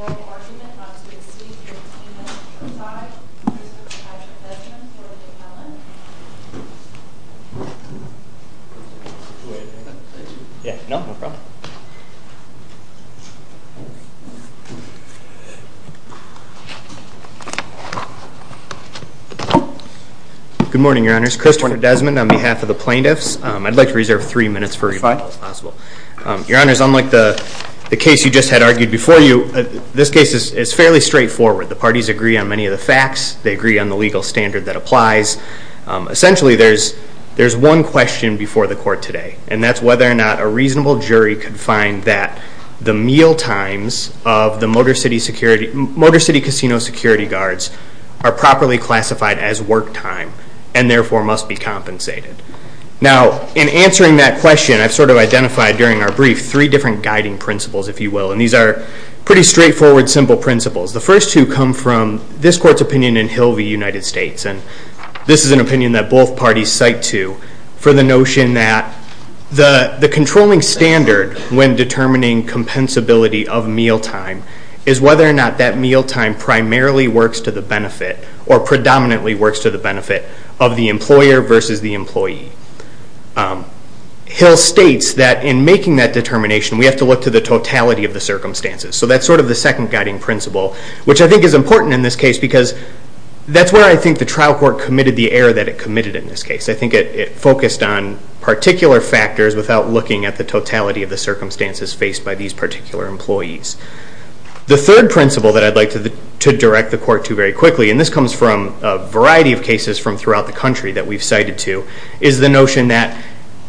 Oral argument not to exceed your attainment to reside, Mr. Patrick Desmond or Ms. Helen. Good morning, your honors. Christopher Desmond on behalf of the plaintiffs. I'd like to reserve three minutes for rebuttal if possible. Your honors, unlike the case you just had argued before you, this case is fairly straightforward. The parties agree on many of the facts. They agree on the legal standard that applies. Essentially, there's one question before the court today. And that's whether or not a reasonable jury could find that the meal times of the Motorcity Casino security guards are properly classified as work time and therefore must be compensated. Now, in answering that question, I've sort of identified during our brief three different guiding principles, if you will. And these are pretty straightforward, simple principles. The first two come from this court's opinion in Hilvey, United States. And this is an opinion that both parties cite to for the notion that the controlling standard when determining compensability of meal time is whether or not that meal time primarily works to the benefit or predominantly works to the benefit of the employer versus the employee. Hill states that in making that determination, we have to look to the totality of the circumstances. So that's sort of the second guiding principle, which I think is important in this case because that's where I think the trial court committed the error that it committed in this case. I think it focused on particular factors without looking at the totality of the circumstances faced by these particular employees. The third principle that I'd like to direct the court to very quickly, and this comes from a variety of cases from throughout the country that we've cited to, is the notion that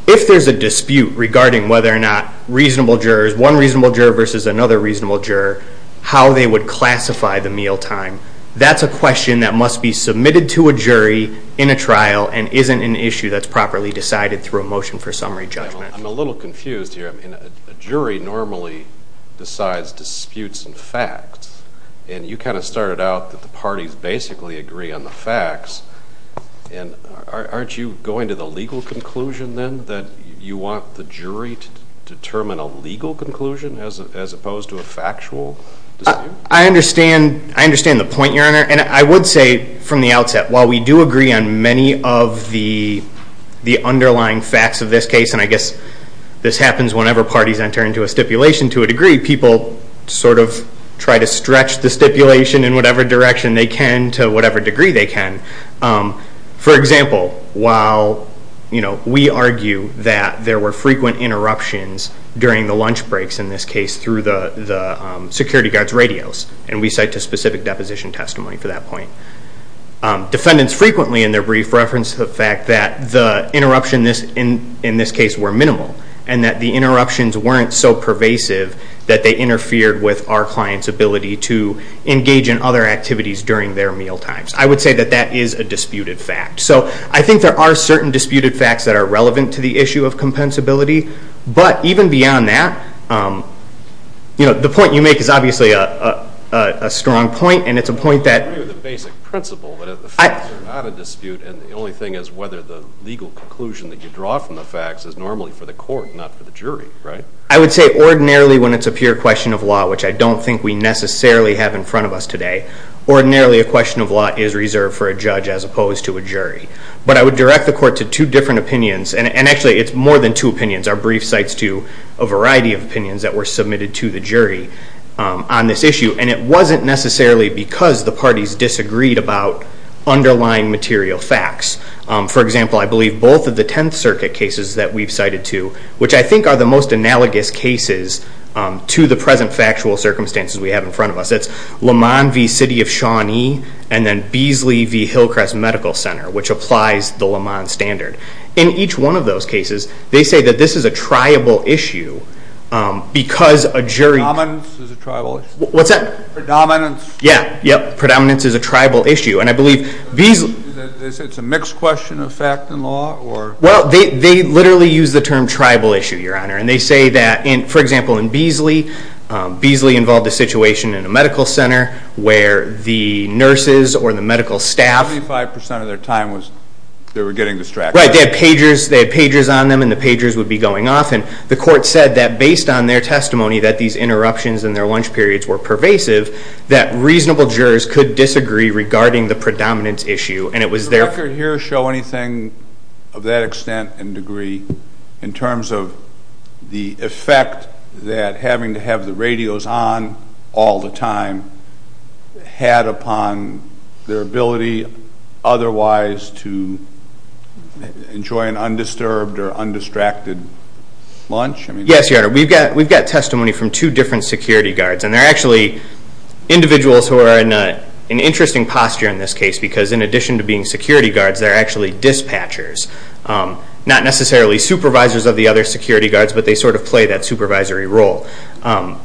if there's a dispute regarding whether or not one reasonable juror versus another reasonable juror, how they would classify the meal time. That's a question that must be submitted to a jury in a trial and isn't an issue that's properly decided through a motion for summary judgment. I'm a little confused here. A jury normally decides disputes and facts. And you kind of started out that the parties basically agree on the facts. And aren't you going to the legal conclusion then that you want the jury to determine a legal conclusion as opposed to a factual dispute? I understand the point, Your Honor. And I would say from the outset, while we do agree on many of the underlying facts of this case, and I guess this happens whenever parties enter into a stipulation to a degree, people sort of try to stretch the stipulation in whatever direction they can to whatever degree they can. For example, while we argue that there were frequent interruptions during the lunch breaks, in this case through the security guard's radios, and we cite to specific deposition testimony for that point, defendants frequently in their brief reference to the fact that the interruptions in this case were minimal and that the interruptions weren't so pervasive that they interfered with our client's ability to engage in other activities during their meal times. I would say that that is a disputed fact. So I think there are certain disputed facts that are relevant to the issue of compensability. But even beyond that, the point you make is obviously a strong point, and it's a point that— I agree with the basic principle that the facts are not a dispute, and the only thing is whether the legal conclusion that you draw from the facts is normally for the court, not for the jury, right? I would say ordinarily when it's a pure question of law, which I don't think we necessarily have in front of us today, ordinarily a question of law is reserved for a judge as opposed to a jury. But I would direct the court to two different opinions, and actually it's more than two opinions. Our brief cites to a variety of opinions that were submitted to the jury on this issue, and it wasn't necessarily because the parties disagreed about underlying material facts. For example, I believe both of the Tenth Circuit cases that we've cited to, which I think are the most analogous cases to the present factual circumstances we have in front of us. That's Lamont v. City of Shawnee, and then Beasley v. Hillcrest Medical Center, which applies the Lamont standard. In each one of those cases, they say that this is a tribal issue because a jury— Predominance is a tribal issue. What's that? Predominance. Yeah, yep. Predominance is a tribal issue, and I believe Beasley— They say it's a mixed question of fact and law, or— Well, they literally use the term tribal issue, Your Honor. And they say that, for example, in Beasley, Beasley involved a situation in a medical center where the nurses or the medical staff— Seventy-five percent of their time they were getting distracted. Right. They had pagers on them, and the pagers would be going off, and the court said that based on their testimony that these interruptions in their lunch periods were pervasive, that reasonable jurors could disagree regarding the predominance issue, and it was their— Did the record here show anything of that extent and degree in terms of the effect that having to have the radios on all the time had upon their ability otherwise to enjoy an undisturbed or undistracted lunch? Yes, Your Honor. We've got testimony from two different security guards, and they're actually individuals who are in an interesting posture in this case because in addition to being security guards, they're actually dispatchers, not necessarily supervisors of the other security guards, but they sort of play that supervisory role,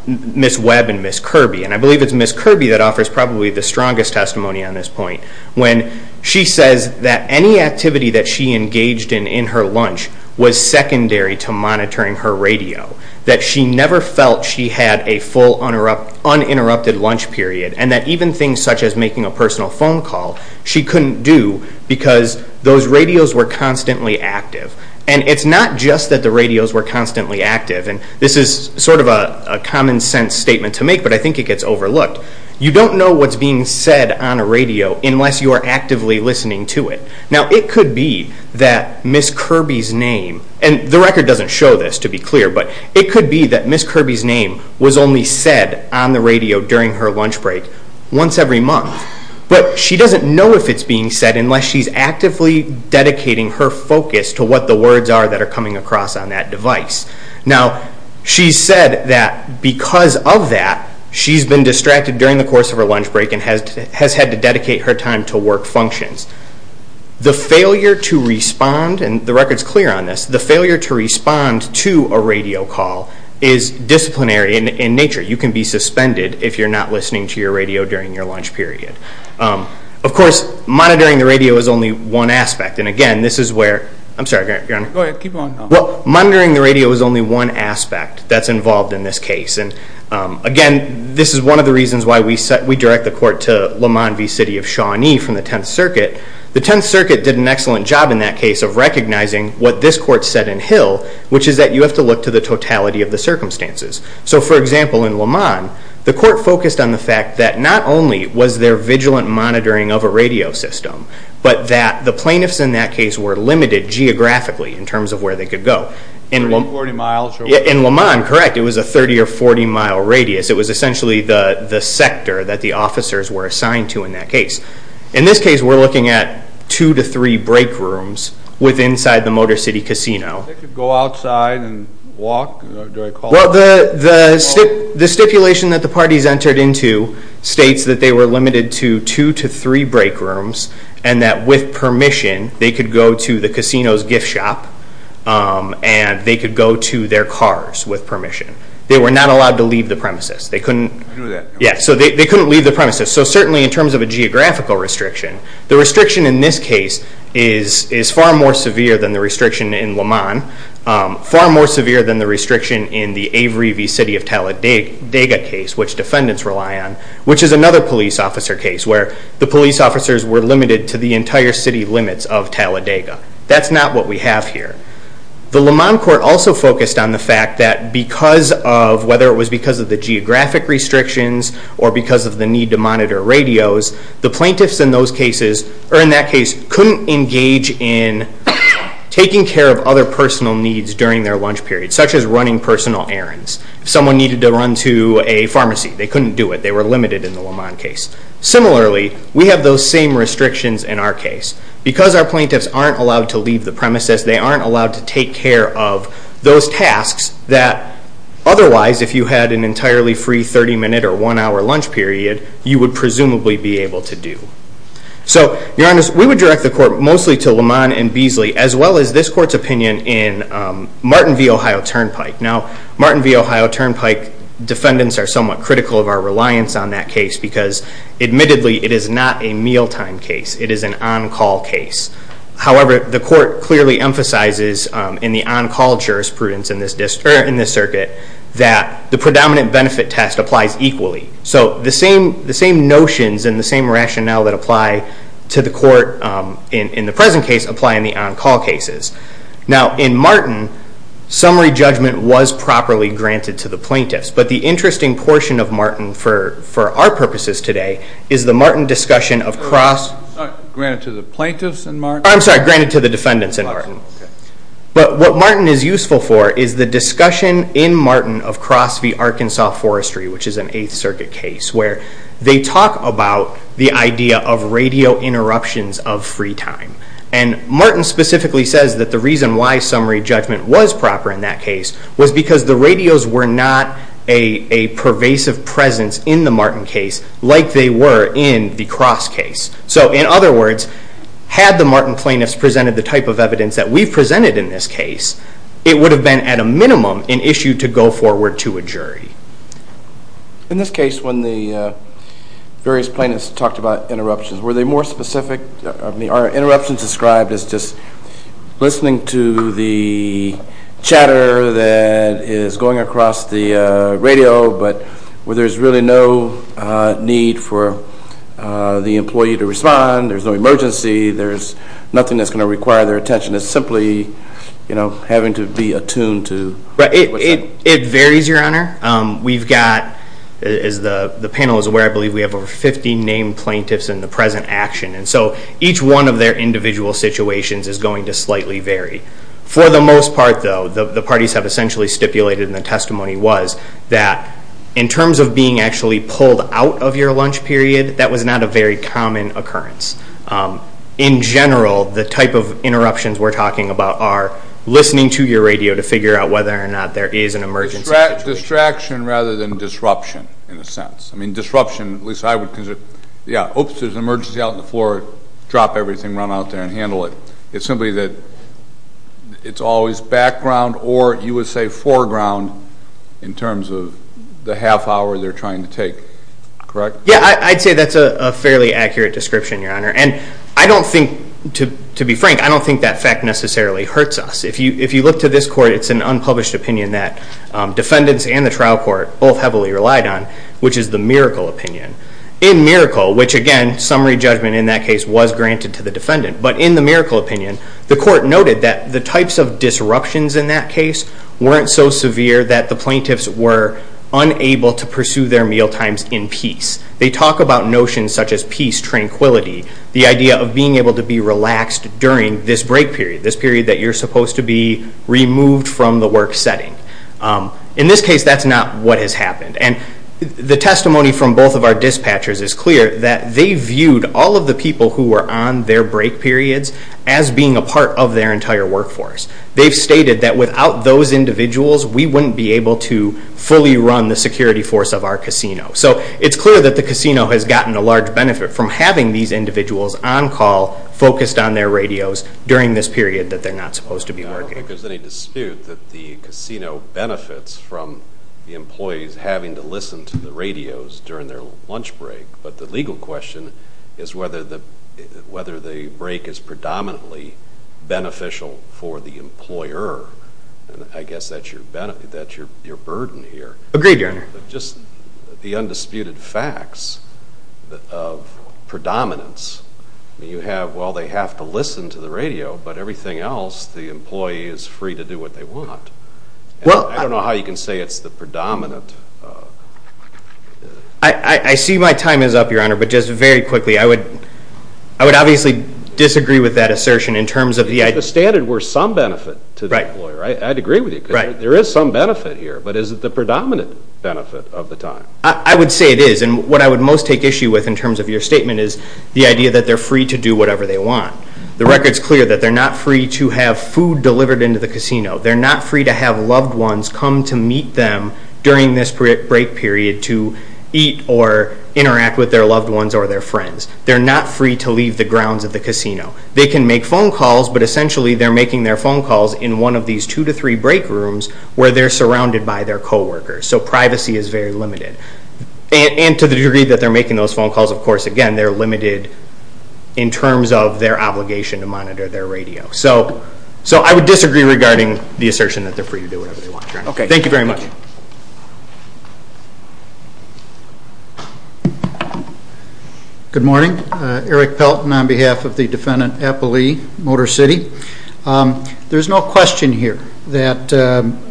Ms. Webb and Ms. Kirby. And I believe it's Ms. Kirby that offers probably the strongest testimony on this point when she says that any activity that she engaged in in her lunch was secondary to monitoring her radio, that she never felt she had a full uninterrupted lunch period, and that even things such as making a personal phone call she couldn't do because those radios were constantly active. And it's not just that the radios were constantly active, and this is sort of a common-sense statement to make, but I think it gets overlooked. You don't know what's being said on a radio unless you are actively listening to it. Now, it could be that Ms. Kirby's name—and the record doesn't show this, to be clear, but it could be that Ms. Kirby's name was only said on the radio during her lunch break once every month, but she doesn't know if it's being said unless she's actively dedicating her focus to what the words are that are coming across on that device. Now, she said that because of that, she's been distracted during the course of her lunch break and has had to dedicate her time to work functions. The failure to respond—and the record's clear on this—the failure to respond to a radio call is disciplinary in nature. You can be suspended if you're not listening to your radio during your lunch period. Of course, monitoring the radio is only one aspect, and again, this is where—I'm sorry, Your Honor. Go ahead. Keep going. Well, monitoring the radio is only one aspect that's involved in this case, and again, this is one of the reasons why we direct the court to LeMond v. City of Shawnee from the 10th Circuit. The 10th Circuit did an excellent job in that case of recognizing what this court said in Hill, which is that you have to look to the totality of the circumstances. So, for example, in LeMond, the court focused on the fact that not only was there vigilant monitoring of a radio system, but that the plaintiffs in that case were limited geographically in terms of where they could go. 30 or 40 miles. In LeMond, correct. It was a 30 or 40-mile radius. It was essentially the sector that the officers were assigned to in that case. In this case, we're looking at two to three break rooms with inside the Motor City Casino. They could go outside and walk? Well, the stipulation that the parties entered into states that they were limited to two to three break rooms and that with permission, they could go to the casino's gift shop and they could go to their cars with permission. They were not allowed to leave the premises. They couldn't leave the premises. So certainly in terms of a geographical restriction, the restriction in this case is far more severe than the restriction in LeMond, far more severe than the restriction in the Avery v. City of Talladega case, which defendants rely on, which is another police officer case where the police officers were limited to the entire city limits of Talladega. That's not what we have here. The LeMond court also focused on the fact that because of, whether it was because of the geographic restrictions or because of the need to monitor radios, the plaintiffs in that case couldn't engage in taking care of other personal needs during their lunch period, such as running personal errands. Someone needed to run to a pharmacy. They couldn't do it. They were limited in the LeMond case. Similarly, we have those same restrictions in our case. Because our plaintiffs aren't allowed to leave the premises, they aren't allowed to take care of those tasks that otherwise, if you had an entirely free 30-minute or one-hour lunch period, you would presumably be able to do. So, Your Honor, we would direct the court mostly to LeMond and Beasley as well as this court's opinion in Martin v. Ohio Turnpike. Now, Martin v. Ohio Turnpike, defendants are somewhat critical of our reliance on that case because admittedly it is not a mealtime case. It is an on-call case. However, the court clearly emphasizes in the on-call jurisprudence in this circuit that the predominant benefit test applies equally. So the same notions and the same rationale that apply to the court in the present case apply in the on-call cases. Now, in Martin, summary judgment was properly granted to the plaintiffs. But the interesting portion of Martin for our purposes today is the Martin discussion of cross... Granted to the plaintiffs in Martin? I'm sorry, granted to the defendants in Martin. But what Martin is useful for is the discussion in Martin of Cross v. Arkansas Forestry, which is an Eighth Circuit case, where they talk about the idea of radio interruptions of free time. And Martin specifically says that the reason why summary judgment was proper in that case was because the radios were not a pervasive presence in the Martin case like they were in the Cross case. So in other words, had the Martin plaintiffs presented the type of evidence that we've presented in this case, it would have been at a minimum an issue to go forward to a jury. In this case, when the various plaintiffs talked about interruptions, were they more specific? Are interruptions described as just listening to the chatter that is going across the radio, but where there's really no need for the employee to respond, there's no emergency, there's nothing that's going to require their attention. It's simply having to be attuned to... It varies, Your Honor. We've got, as the panel is aware, I believe we have over 50 named plaintiffs in the present action. And so each one of their individual situations is going to slightly vary. For the most part, though, the parties have essentially stipulated in the testimony was that in terms of being actually pulled out of your lunch period, that was not a very common occurrence. In general, the type of interruptions we're talking about are listening to your radio to figure out whether or not there is an emergency. Distraction rather than disruption, in a sense. I mean disruption, at least I would consider, yeah, oops, there's an emergency out on the floor, drop everything, run out there and handle it. It's simply that it's always background or you would say foreground in terms of the half hour they're trying to take. Correct? Yeah, I'd say that's a fairly accurate description, Your Honor. And I don't think, to be frank, I don't think that fact necessarily hurts us. If you look to this court, it's an unpublished opinion that defendants and the trial court both heavily relied on, which is the Miracle opinion. In Miracle, which again, summary judgment in that case was granted to the defendant, but in the Miracle opinion, the court noted that the types of disruptions in that case weren't so severe that the plaintiffs were unable to pursue their mealtimes in peace. They talk about notions such as peace, tranquility, the idea of being able to be relaxed during this break period, this period that you're supposed to be removed from the work setting. In this case, that's not what has happened. And the testimony from both of our dispatchers is clear that they viewed all of the people who were on their break periods as being a part of their entire workforce. They've stated that without those individuals, we wouldn't be able to fully run the security force of our casino. So it's clear that the casino has gotten a large benefit from having these individuals on call, focused on their radios, during this period that they're not supposed to be working. I don't think there's any dispute that the casino benefits from the employees having to listen to the radios during their lunch break. But the legal question is whether the break is predominantly beneficial for the employer. I guess that's your burden here. Agreed, Your Honor. Just the undisputed facts of predominance. You have, well, they have to listen to the radio, but everything else, the employee is free to do what they want. I don't know how you can say it's the predominant. I see my time is up, Your Honor, but just very quickly, I would obviously disagree with that assertion in terms of the idea. If the standard were some benefit to the employer, I'd agree with you. There is some benefit here, but is it the predominant benefit of the time? I would say it is. And what I would most take issue with in terms of your statement is the idea that they're free to do whatever they want. The record's clear that they're not free to have food delivered into the casino. They're not free to have loved ones come to meet them during this break period to eat or interact with their loved ones or their friends. They're not free to leave the grounds of the casino. They can make phone calls, but essentially they're making their phone calls in one of these two to three break rooms where they're surrounded by their coworkers. So privacy is very limited. And to the degree that they're making those phone calls, of course, again, they're limited in terms of their obligation to monitor their radio. So I would disagree regarding the assertion that they're free to do whatever they want. Thank you very much. Good morning. Eric Pelton on behalf of the defendant, Appley, Motor City. There's no question here that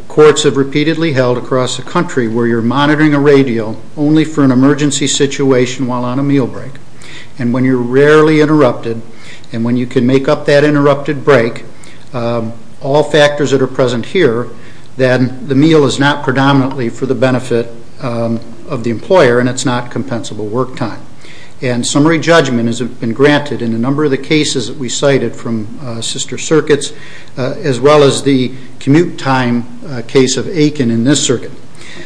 courts have repeatedly held across the country where you're monitoring a radio only for an emergency situation while on a meal break, and when you're rarely interrupted and when you can make up that interrupted break, all factors that are present here, then the meal is not predominantly for the benefit of the employer and it's not compensable work time. And summary judgment has been granted in a number of the cases that we cited from sister circuits as well as the commute time case of Aiken in this circuit.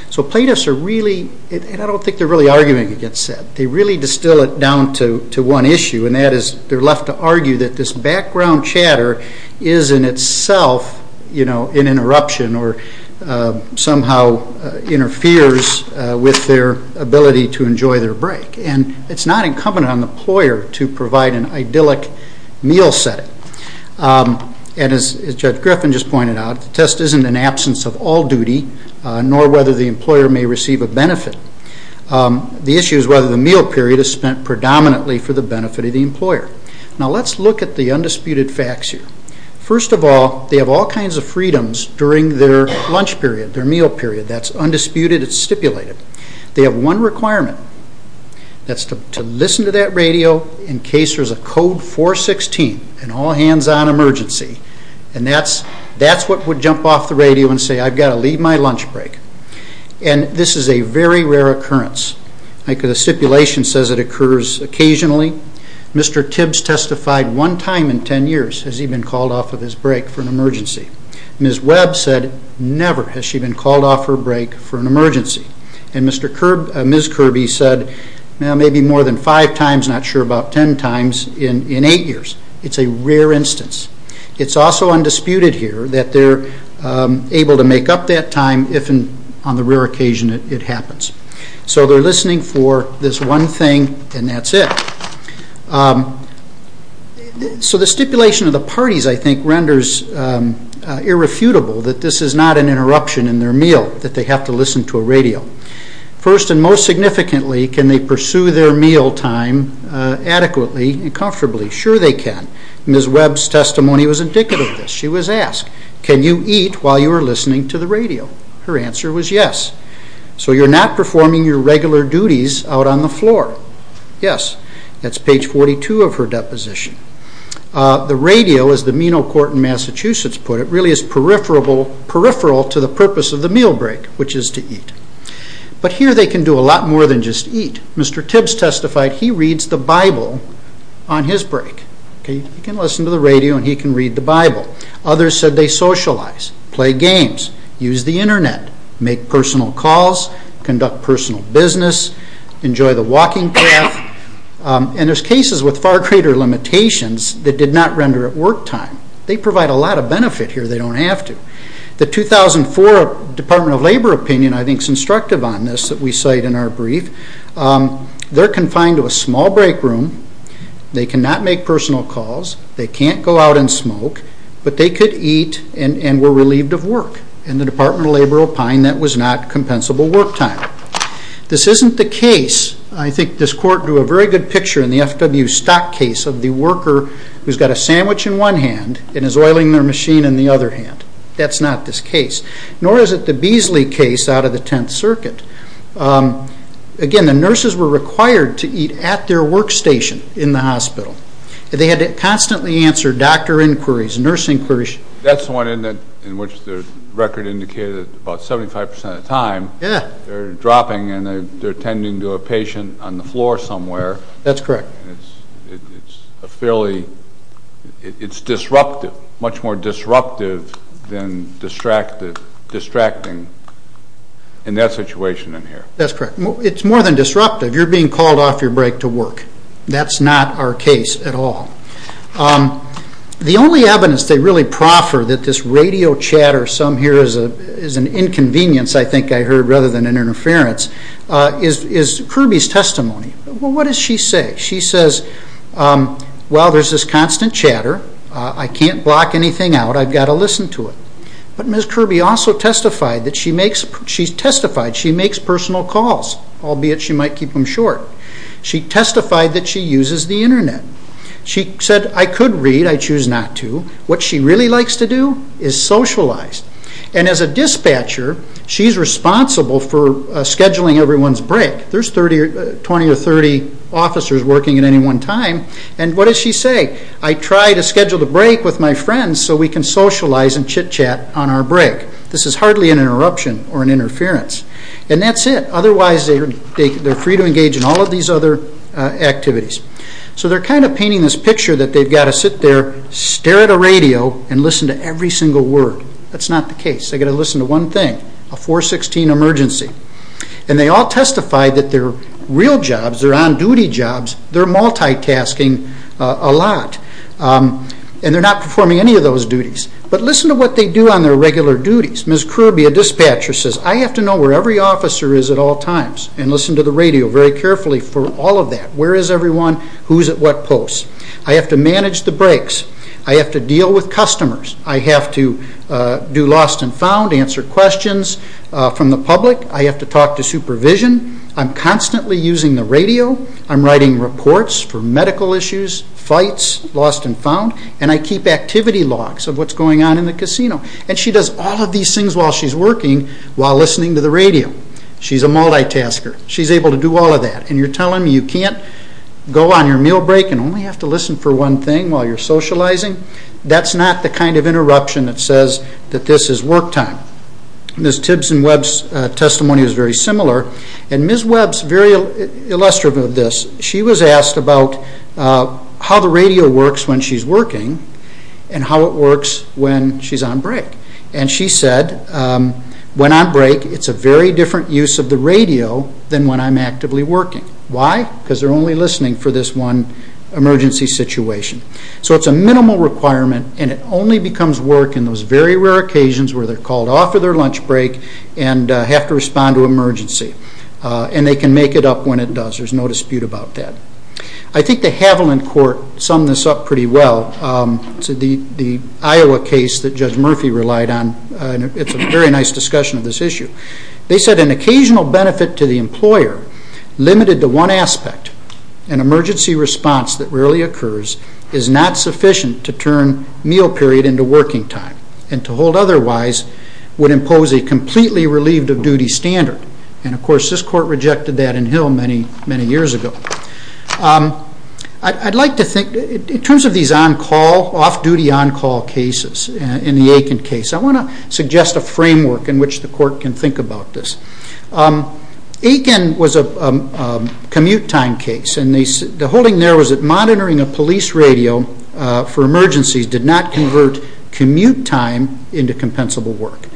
So plaintiffs are really, and I don't think they're really arguing against that, they really distill it down to one issue, and that is they're left to argue that this background chatter is in itself an interruption or somehow interferes with their ability to enjoy their break. And it's not incumbent on the employer to provide an idyllic meal setting. And as Judge Griffin just pointed out, the test isn't an absence of all duty nor whether the employer may receive a benefit. The issue is whether the meal period is spent predominantly for the benefit of the employer. Now let's look at the undisputed facts here. First of all, they have all kinds of freedoms during their lunch period, their meal period. That's undisputed, it's stipulated. They have one requirement. That's to listen to that radio in case there's a code 416, an all-hands-on emergency, and that's what would jump off the radio and say, I've got to leave my lunch break. And this is a very rare occurrence. The stipulation says it occurs occasionally. Mr. Tibbs testified one time in ten years has he been called off of his break for an emergency. Ms. Webb said never has she been called off her break for an emergency. And Ms. Kirby said maybe more than five times, not sure about ten times, in eight years. It's a rare instance. It's also undisputed here that they're able to make up that time if on the rare occasion it happens. So they're listening for this one thing, and that's it. So the stipulation of the parties, I think, renders irrefutable that this is not an interruption in their meal, that they have to listen to a radio. First and most significantly, can they pursue their meal time adequately and comfortably? Sure they can. Ms. Webb's testimony was indicative of this. She was asked, can you eat while you are listening to the radio? Her answer was yes. So you're not performing your regular duties out on the floor? Yes. That's page 42 of her deposition. The radio, as the Meno Court in Massachusetts put it, really is peripheral to the purpose of the meal break, which is to eat. But here they can do a lot more than just eat. Mr. Tibbs testified he reads the Bible on his break. He can listen to the radio and he can read the Bible. Others said they socialize, play games, use the Internet, make personal calls, conduct personal business, enjoy the walking path. And there's cases with far greater limitations that did not render at work time. They provide a lot of benefit here. They don't have to. The 2004 Department of Labor opinion, I think, is instructive on this that we cite in our brief. They're confined to a small break room. They cannot make personal calls. They can't go out and smoke. But they could eat and were relieved of work. In the Department of Labor opined that was not compensable work time. This isn't the case, I think this court drew a very good picture in the FW Stock case, of the worker who's got a sandwich in one hand and is oiling their machine in the other hand. That's not this case. Nor is it the Beasley case out of the Tenth Circuit. Again, the nurses were required to eat at their work station in the hospital. They had to constantly answer doctor inquiries, nurse inquiries. That's the one in which the record indicated that about 75% of the time they're dropping and they're tending to a patient on the floor somewhere. That's correct. It's disruptive, much more disruptive than distracting in that situation in here. That's correct. It's more than disruptive. You're being called off your break to work. That's not our case at all. The only evidence they really proffer that this radio chatter, some hear as an inconvenience, I think I heard, rather than an interference, is Kirby's testimony. What does she say? She says, well, there's this constant chatter. I can't block anything out. I've got to listen to it. But Ms. Kirby also testified that she makes personal calls, albeit she might keep them short. She testified that she uses the Internet. She said, I could read. I choose not to. What she really likes to do is socialize. And as a dispatcher, she's responsible for scheduling everyone's break. There's 20 or 30 officers working at any one time. And what does she say? I try to schedule the break with my friends so we can socialize and chit-chat on our break. This is hardly an interruption or an interference. And that's it. Otherwise, they're free to engage in all of these other activities. So they're kind of painting this picture that they've got to sit there, stare at a radio, and listen to every single word. That's not the case. They've got to listen to one thing, a 416 emergency. And they all testify that their real jobs, their on-duty jobs, they're multitasking a lot. And they're not performing any of those duties. But listen to what they do on their regular duties. Ms. Kirby, a dispatcher, says, I have to know where every officer is at all times. And listen to the radio very carefully for all of that. Where is everyone? Who's at what post? I have to manage the breaks. I have to deal with customers. I have to do lost and found, answer questions from the public. I have to talk to supervision. I'm constantly using the radio. I'm writing reports for medical issues, fights, lost and found. And I keep activity logs of what's going on in the casino. And she does all of these things while she's working while listening to the radio. She's a multitasker. She's able to do all of that. And you're telling me you can't go on your meal break and only have to listen for one thing while you're socializing? That's not the kind of interruption that says that this is work time. Ms. Tibbs and Webb's testimony was very similar. And Ms. Webb's very illustrative of this. She was asked about how the radio works when she's working and how it works when she's on break. And she said, when on break, it's a very different use of the radio than when I'm actively working. Why? Because they're only listening for this one emergency situation. So it's a minimal requirement. And it only becomes work in those very rare occasions where they're called off of their lunch break and have to respond to emergency. And they can make it up when it does. There's no dispute about that. I think the Haviland Court summed this up pretty well. The Iowa case that Judge Murphy relied on, it's a very nice discussion of this issue. They said, an occasional benefit to the employer limited to one aspect, an emergency response that rarely occurs is not sufficient to turn meal period into working time. And to hold otherwise would impose a completely relieved of duty standard. And, of course, this court rejected that in Hill many, many years ago. I'd like to think, in terms of these on-call, off-duty on-call cases in the Aiken case, I want to suggest a framework in which the court can think about this. Aiken was a commute time case. And the holding there was that monitoring a police radio for emergencies did not convert commute time into compensable work.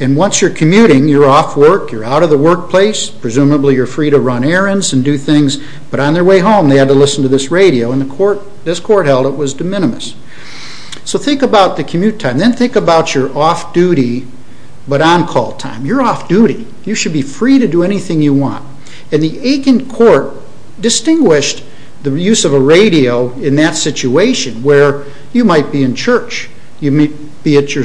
And once you're commuting, you're off work, you're out of the workplace, presumably you're free to run errands and do things. But on their way home, they had to listen to this radio. And this court held it was de minimis. So think about the commute time. Then think about your off-duty but on-call time. You're off duty. You should be free to do anything you want. And the Aiken court distinguished the use of a radio in that situation where you might be in church. You may be at your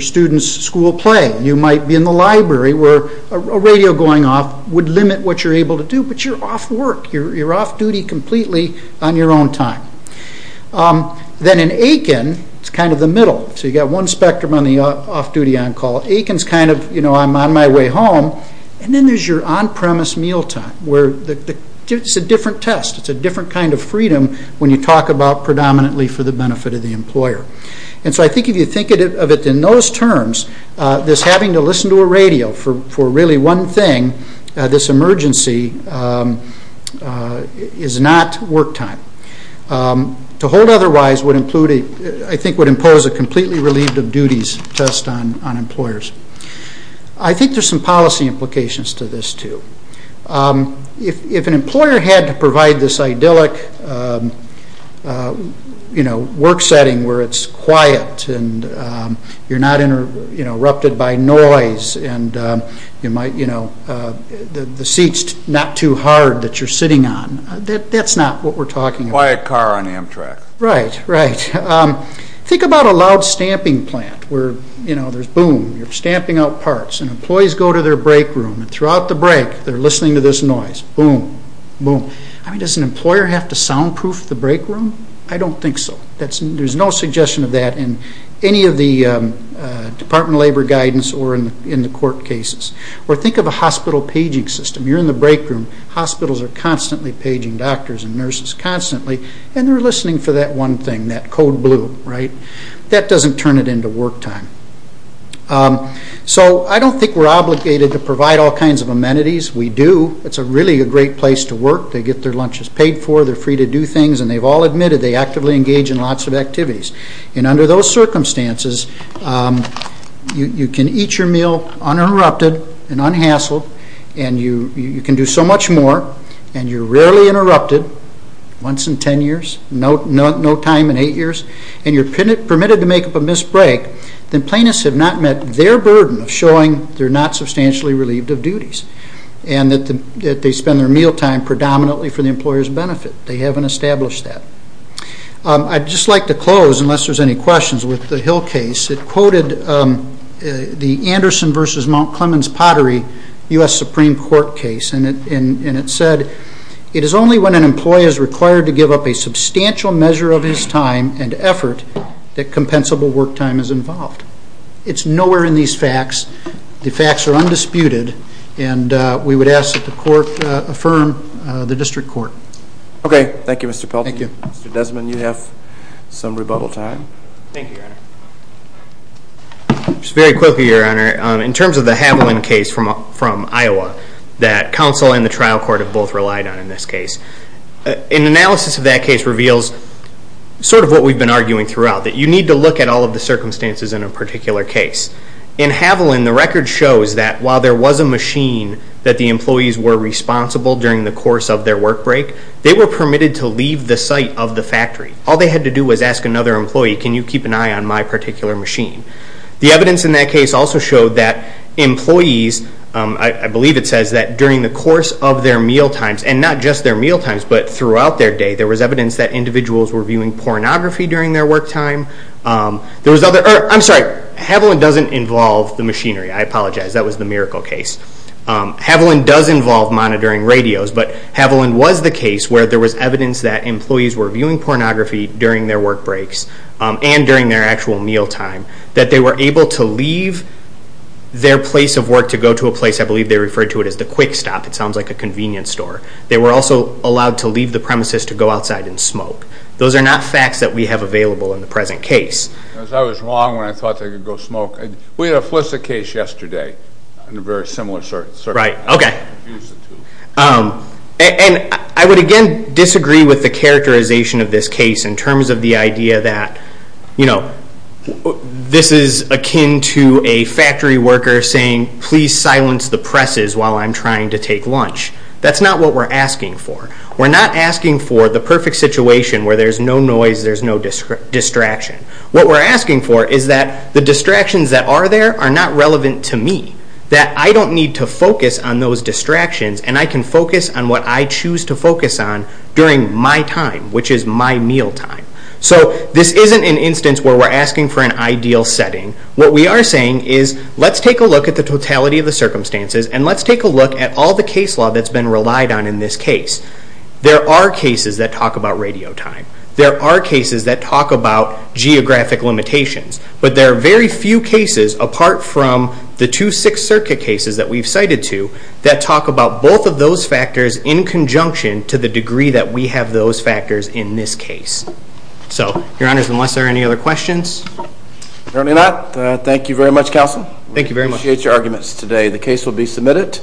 student's school play. You might be in the library where a radio going off would limit what you're able to do. But you're off work. You're off duty completely on your own time. Then in Aiken, it's kind of the middle. So you've got one spectrum on the off-duty on-call. Aiken's kind of, you know, I'm on my way home. And then there's your on-premise meal time where it's a different test. It's a different kind of freedom when you talk about predominantly for the benefit of the employer. And so I think if you think of it in those terms, this having to listen to a radio for really one thing, this emergency, is not work time. To hold otherwise, I think, would impose a completely relieved of duties test on employers. I think there's some policy implications to this, too. If an employer had to provide this idyllic work setting where it's quiet and you're not interrupted by noise and the seat's not too hard that you're sitting on, that's not what we're talking about. Quiet car on Amtrak. Right. Right. Think about a loud stamping plant where, you know, there's boom. You're stamping out parts. And employees go to their break room. And throughout the break, they're listening to this noise. Boom. Boom. I mean, does an employer have to soundproof the break room? I don't think so. There's no suggestion of that in any of the Department of Labor guidance or in the court cases. Or think of a hospital paging system. You're in the break room. Hospitals are constantly paging doctors and nurses constantly. And they're listening for that one thing, that code blue. Right. That doesn't turn it into work time. So I don't think we're obligated to provide all kinds of amenities. We do. It's really a great place to work. They get their lunches paid for. They're free to do things. And they've all admitted they actively engage in lots of activities. And under those circumstances, you can eat your meal uninterrupted and unhassled. And you can do so much more. And you're rarely interrupted. Once in ten years. No time in eight years. And you're permitted to make up a missed break. Then plaintiffs have not met their burden of showing they're not substantially relieved of duties. And that they spend their meal time predominantly for the employer's benefit. They haven't established that. I'd just like to close, unless there's any questions, with the Hill case. It quoted the Anderson v. Mount Clemens Pottery U.S. Supreme Court case. And it said, It is only when an employee is required to give up a substantial measure of his time and effort that compensable work time is involved. It's nowhere in these facts. The facts are undisputed. And we would ask that the court affirm the district court. Okay. Thank you, Mr. Pelton. Thank you. Mr. Desmond, you have some rebuttal time. Thank you, Your Honor. Just very quickly, Your Honor, in terms of the Haviland case from Iowa, that counsel and the trial court have both relied on in this case. An analysis of that case reveals sort of what we've been arguing throughout. That you need to look at all of the circumstances in a particular case. In Haviland, the record shows that while there was a machine that the employees were responsible during the course of their work break, they were permitted to leave the site of the factory. All they had to do was ask another employee, Can you keep an eye on my particular machine? The evidence in that case also showed that employees, I believe it says that during the course of their mealtimes, and not just their mealtimes but throughout their day, there was evidence that individuals were viewing pornography during their work time. I'm sorry, Haviland doesn't involve the machinery. I apologize. That was the Miracle case. Haviland does involve monitoring radios, but Haviland was the case where there was evidence that employees were viewing pornography during their work breaks and during their actual mealtime, that they were able to leave their place of work to go to a place, I believe they refer to it as the quick stop. It sounds like a convenience store. They were also allowed to leave the premises to go outside and smoke. Those are not facts that we have available in the present case. I was wrong when I thought they could go smoke. We had a Felicity case yesterday in a very similar circumstance. Right, okay. And I would again disagree with the characterization of this case in terms of the idea that this is akin to a factory worker saying, Please silence the presses while I'm trying to take lunch. That's not what we're asking for. We're not asking for the perfect situation where there's no noise, there's no distraction. What we're asking for is that the distractions that are there are not relevant to me, that I don't need to focus on those distractions and I can focus on what I choose to focus on during my time, which is my mealtime. So this isn't an instance where we're asking for an ideal setting. What we are saying is let's take a look at the totality of the circumstances and let's take a look at all the case law that's been relied on in this case. There are cases that talk about radio time. There are cases that talk about geographic limitations. But there are very few cases, apart from the two Sixth Circuit cases that we've cited to, that talk about both of those factors in conjunction to the degree that we have those factors in this case. So, Your Honors, unless there are any other questions. Apparently not. Thank you very much, Counsel. Thank you very much. I appreciate your arguments today. The case will be submitted.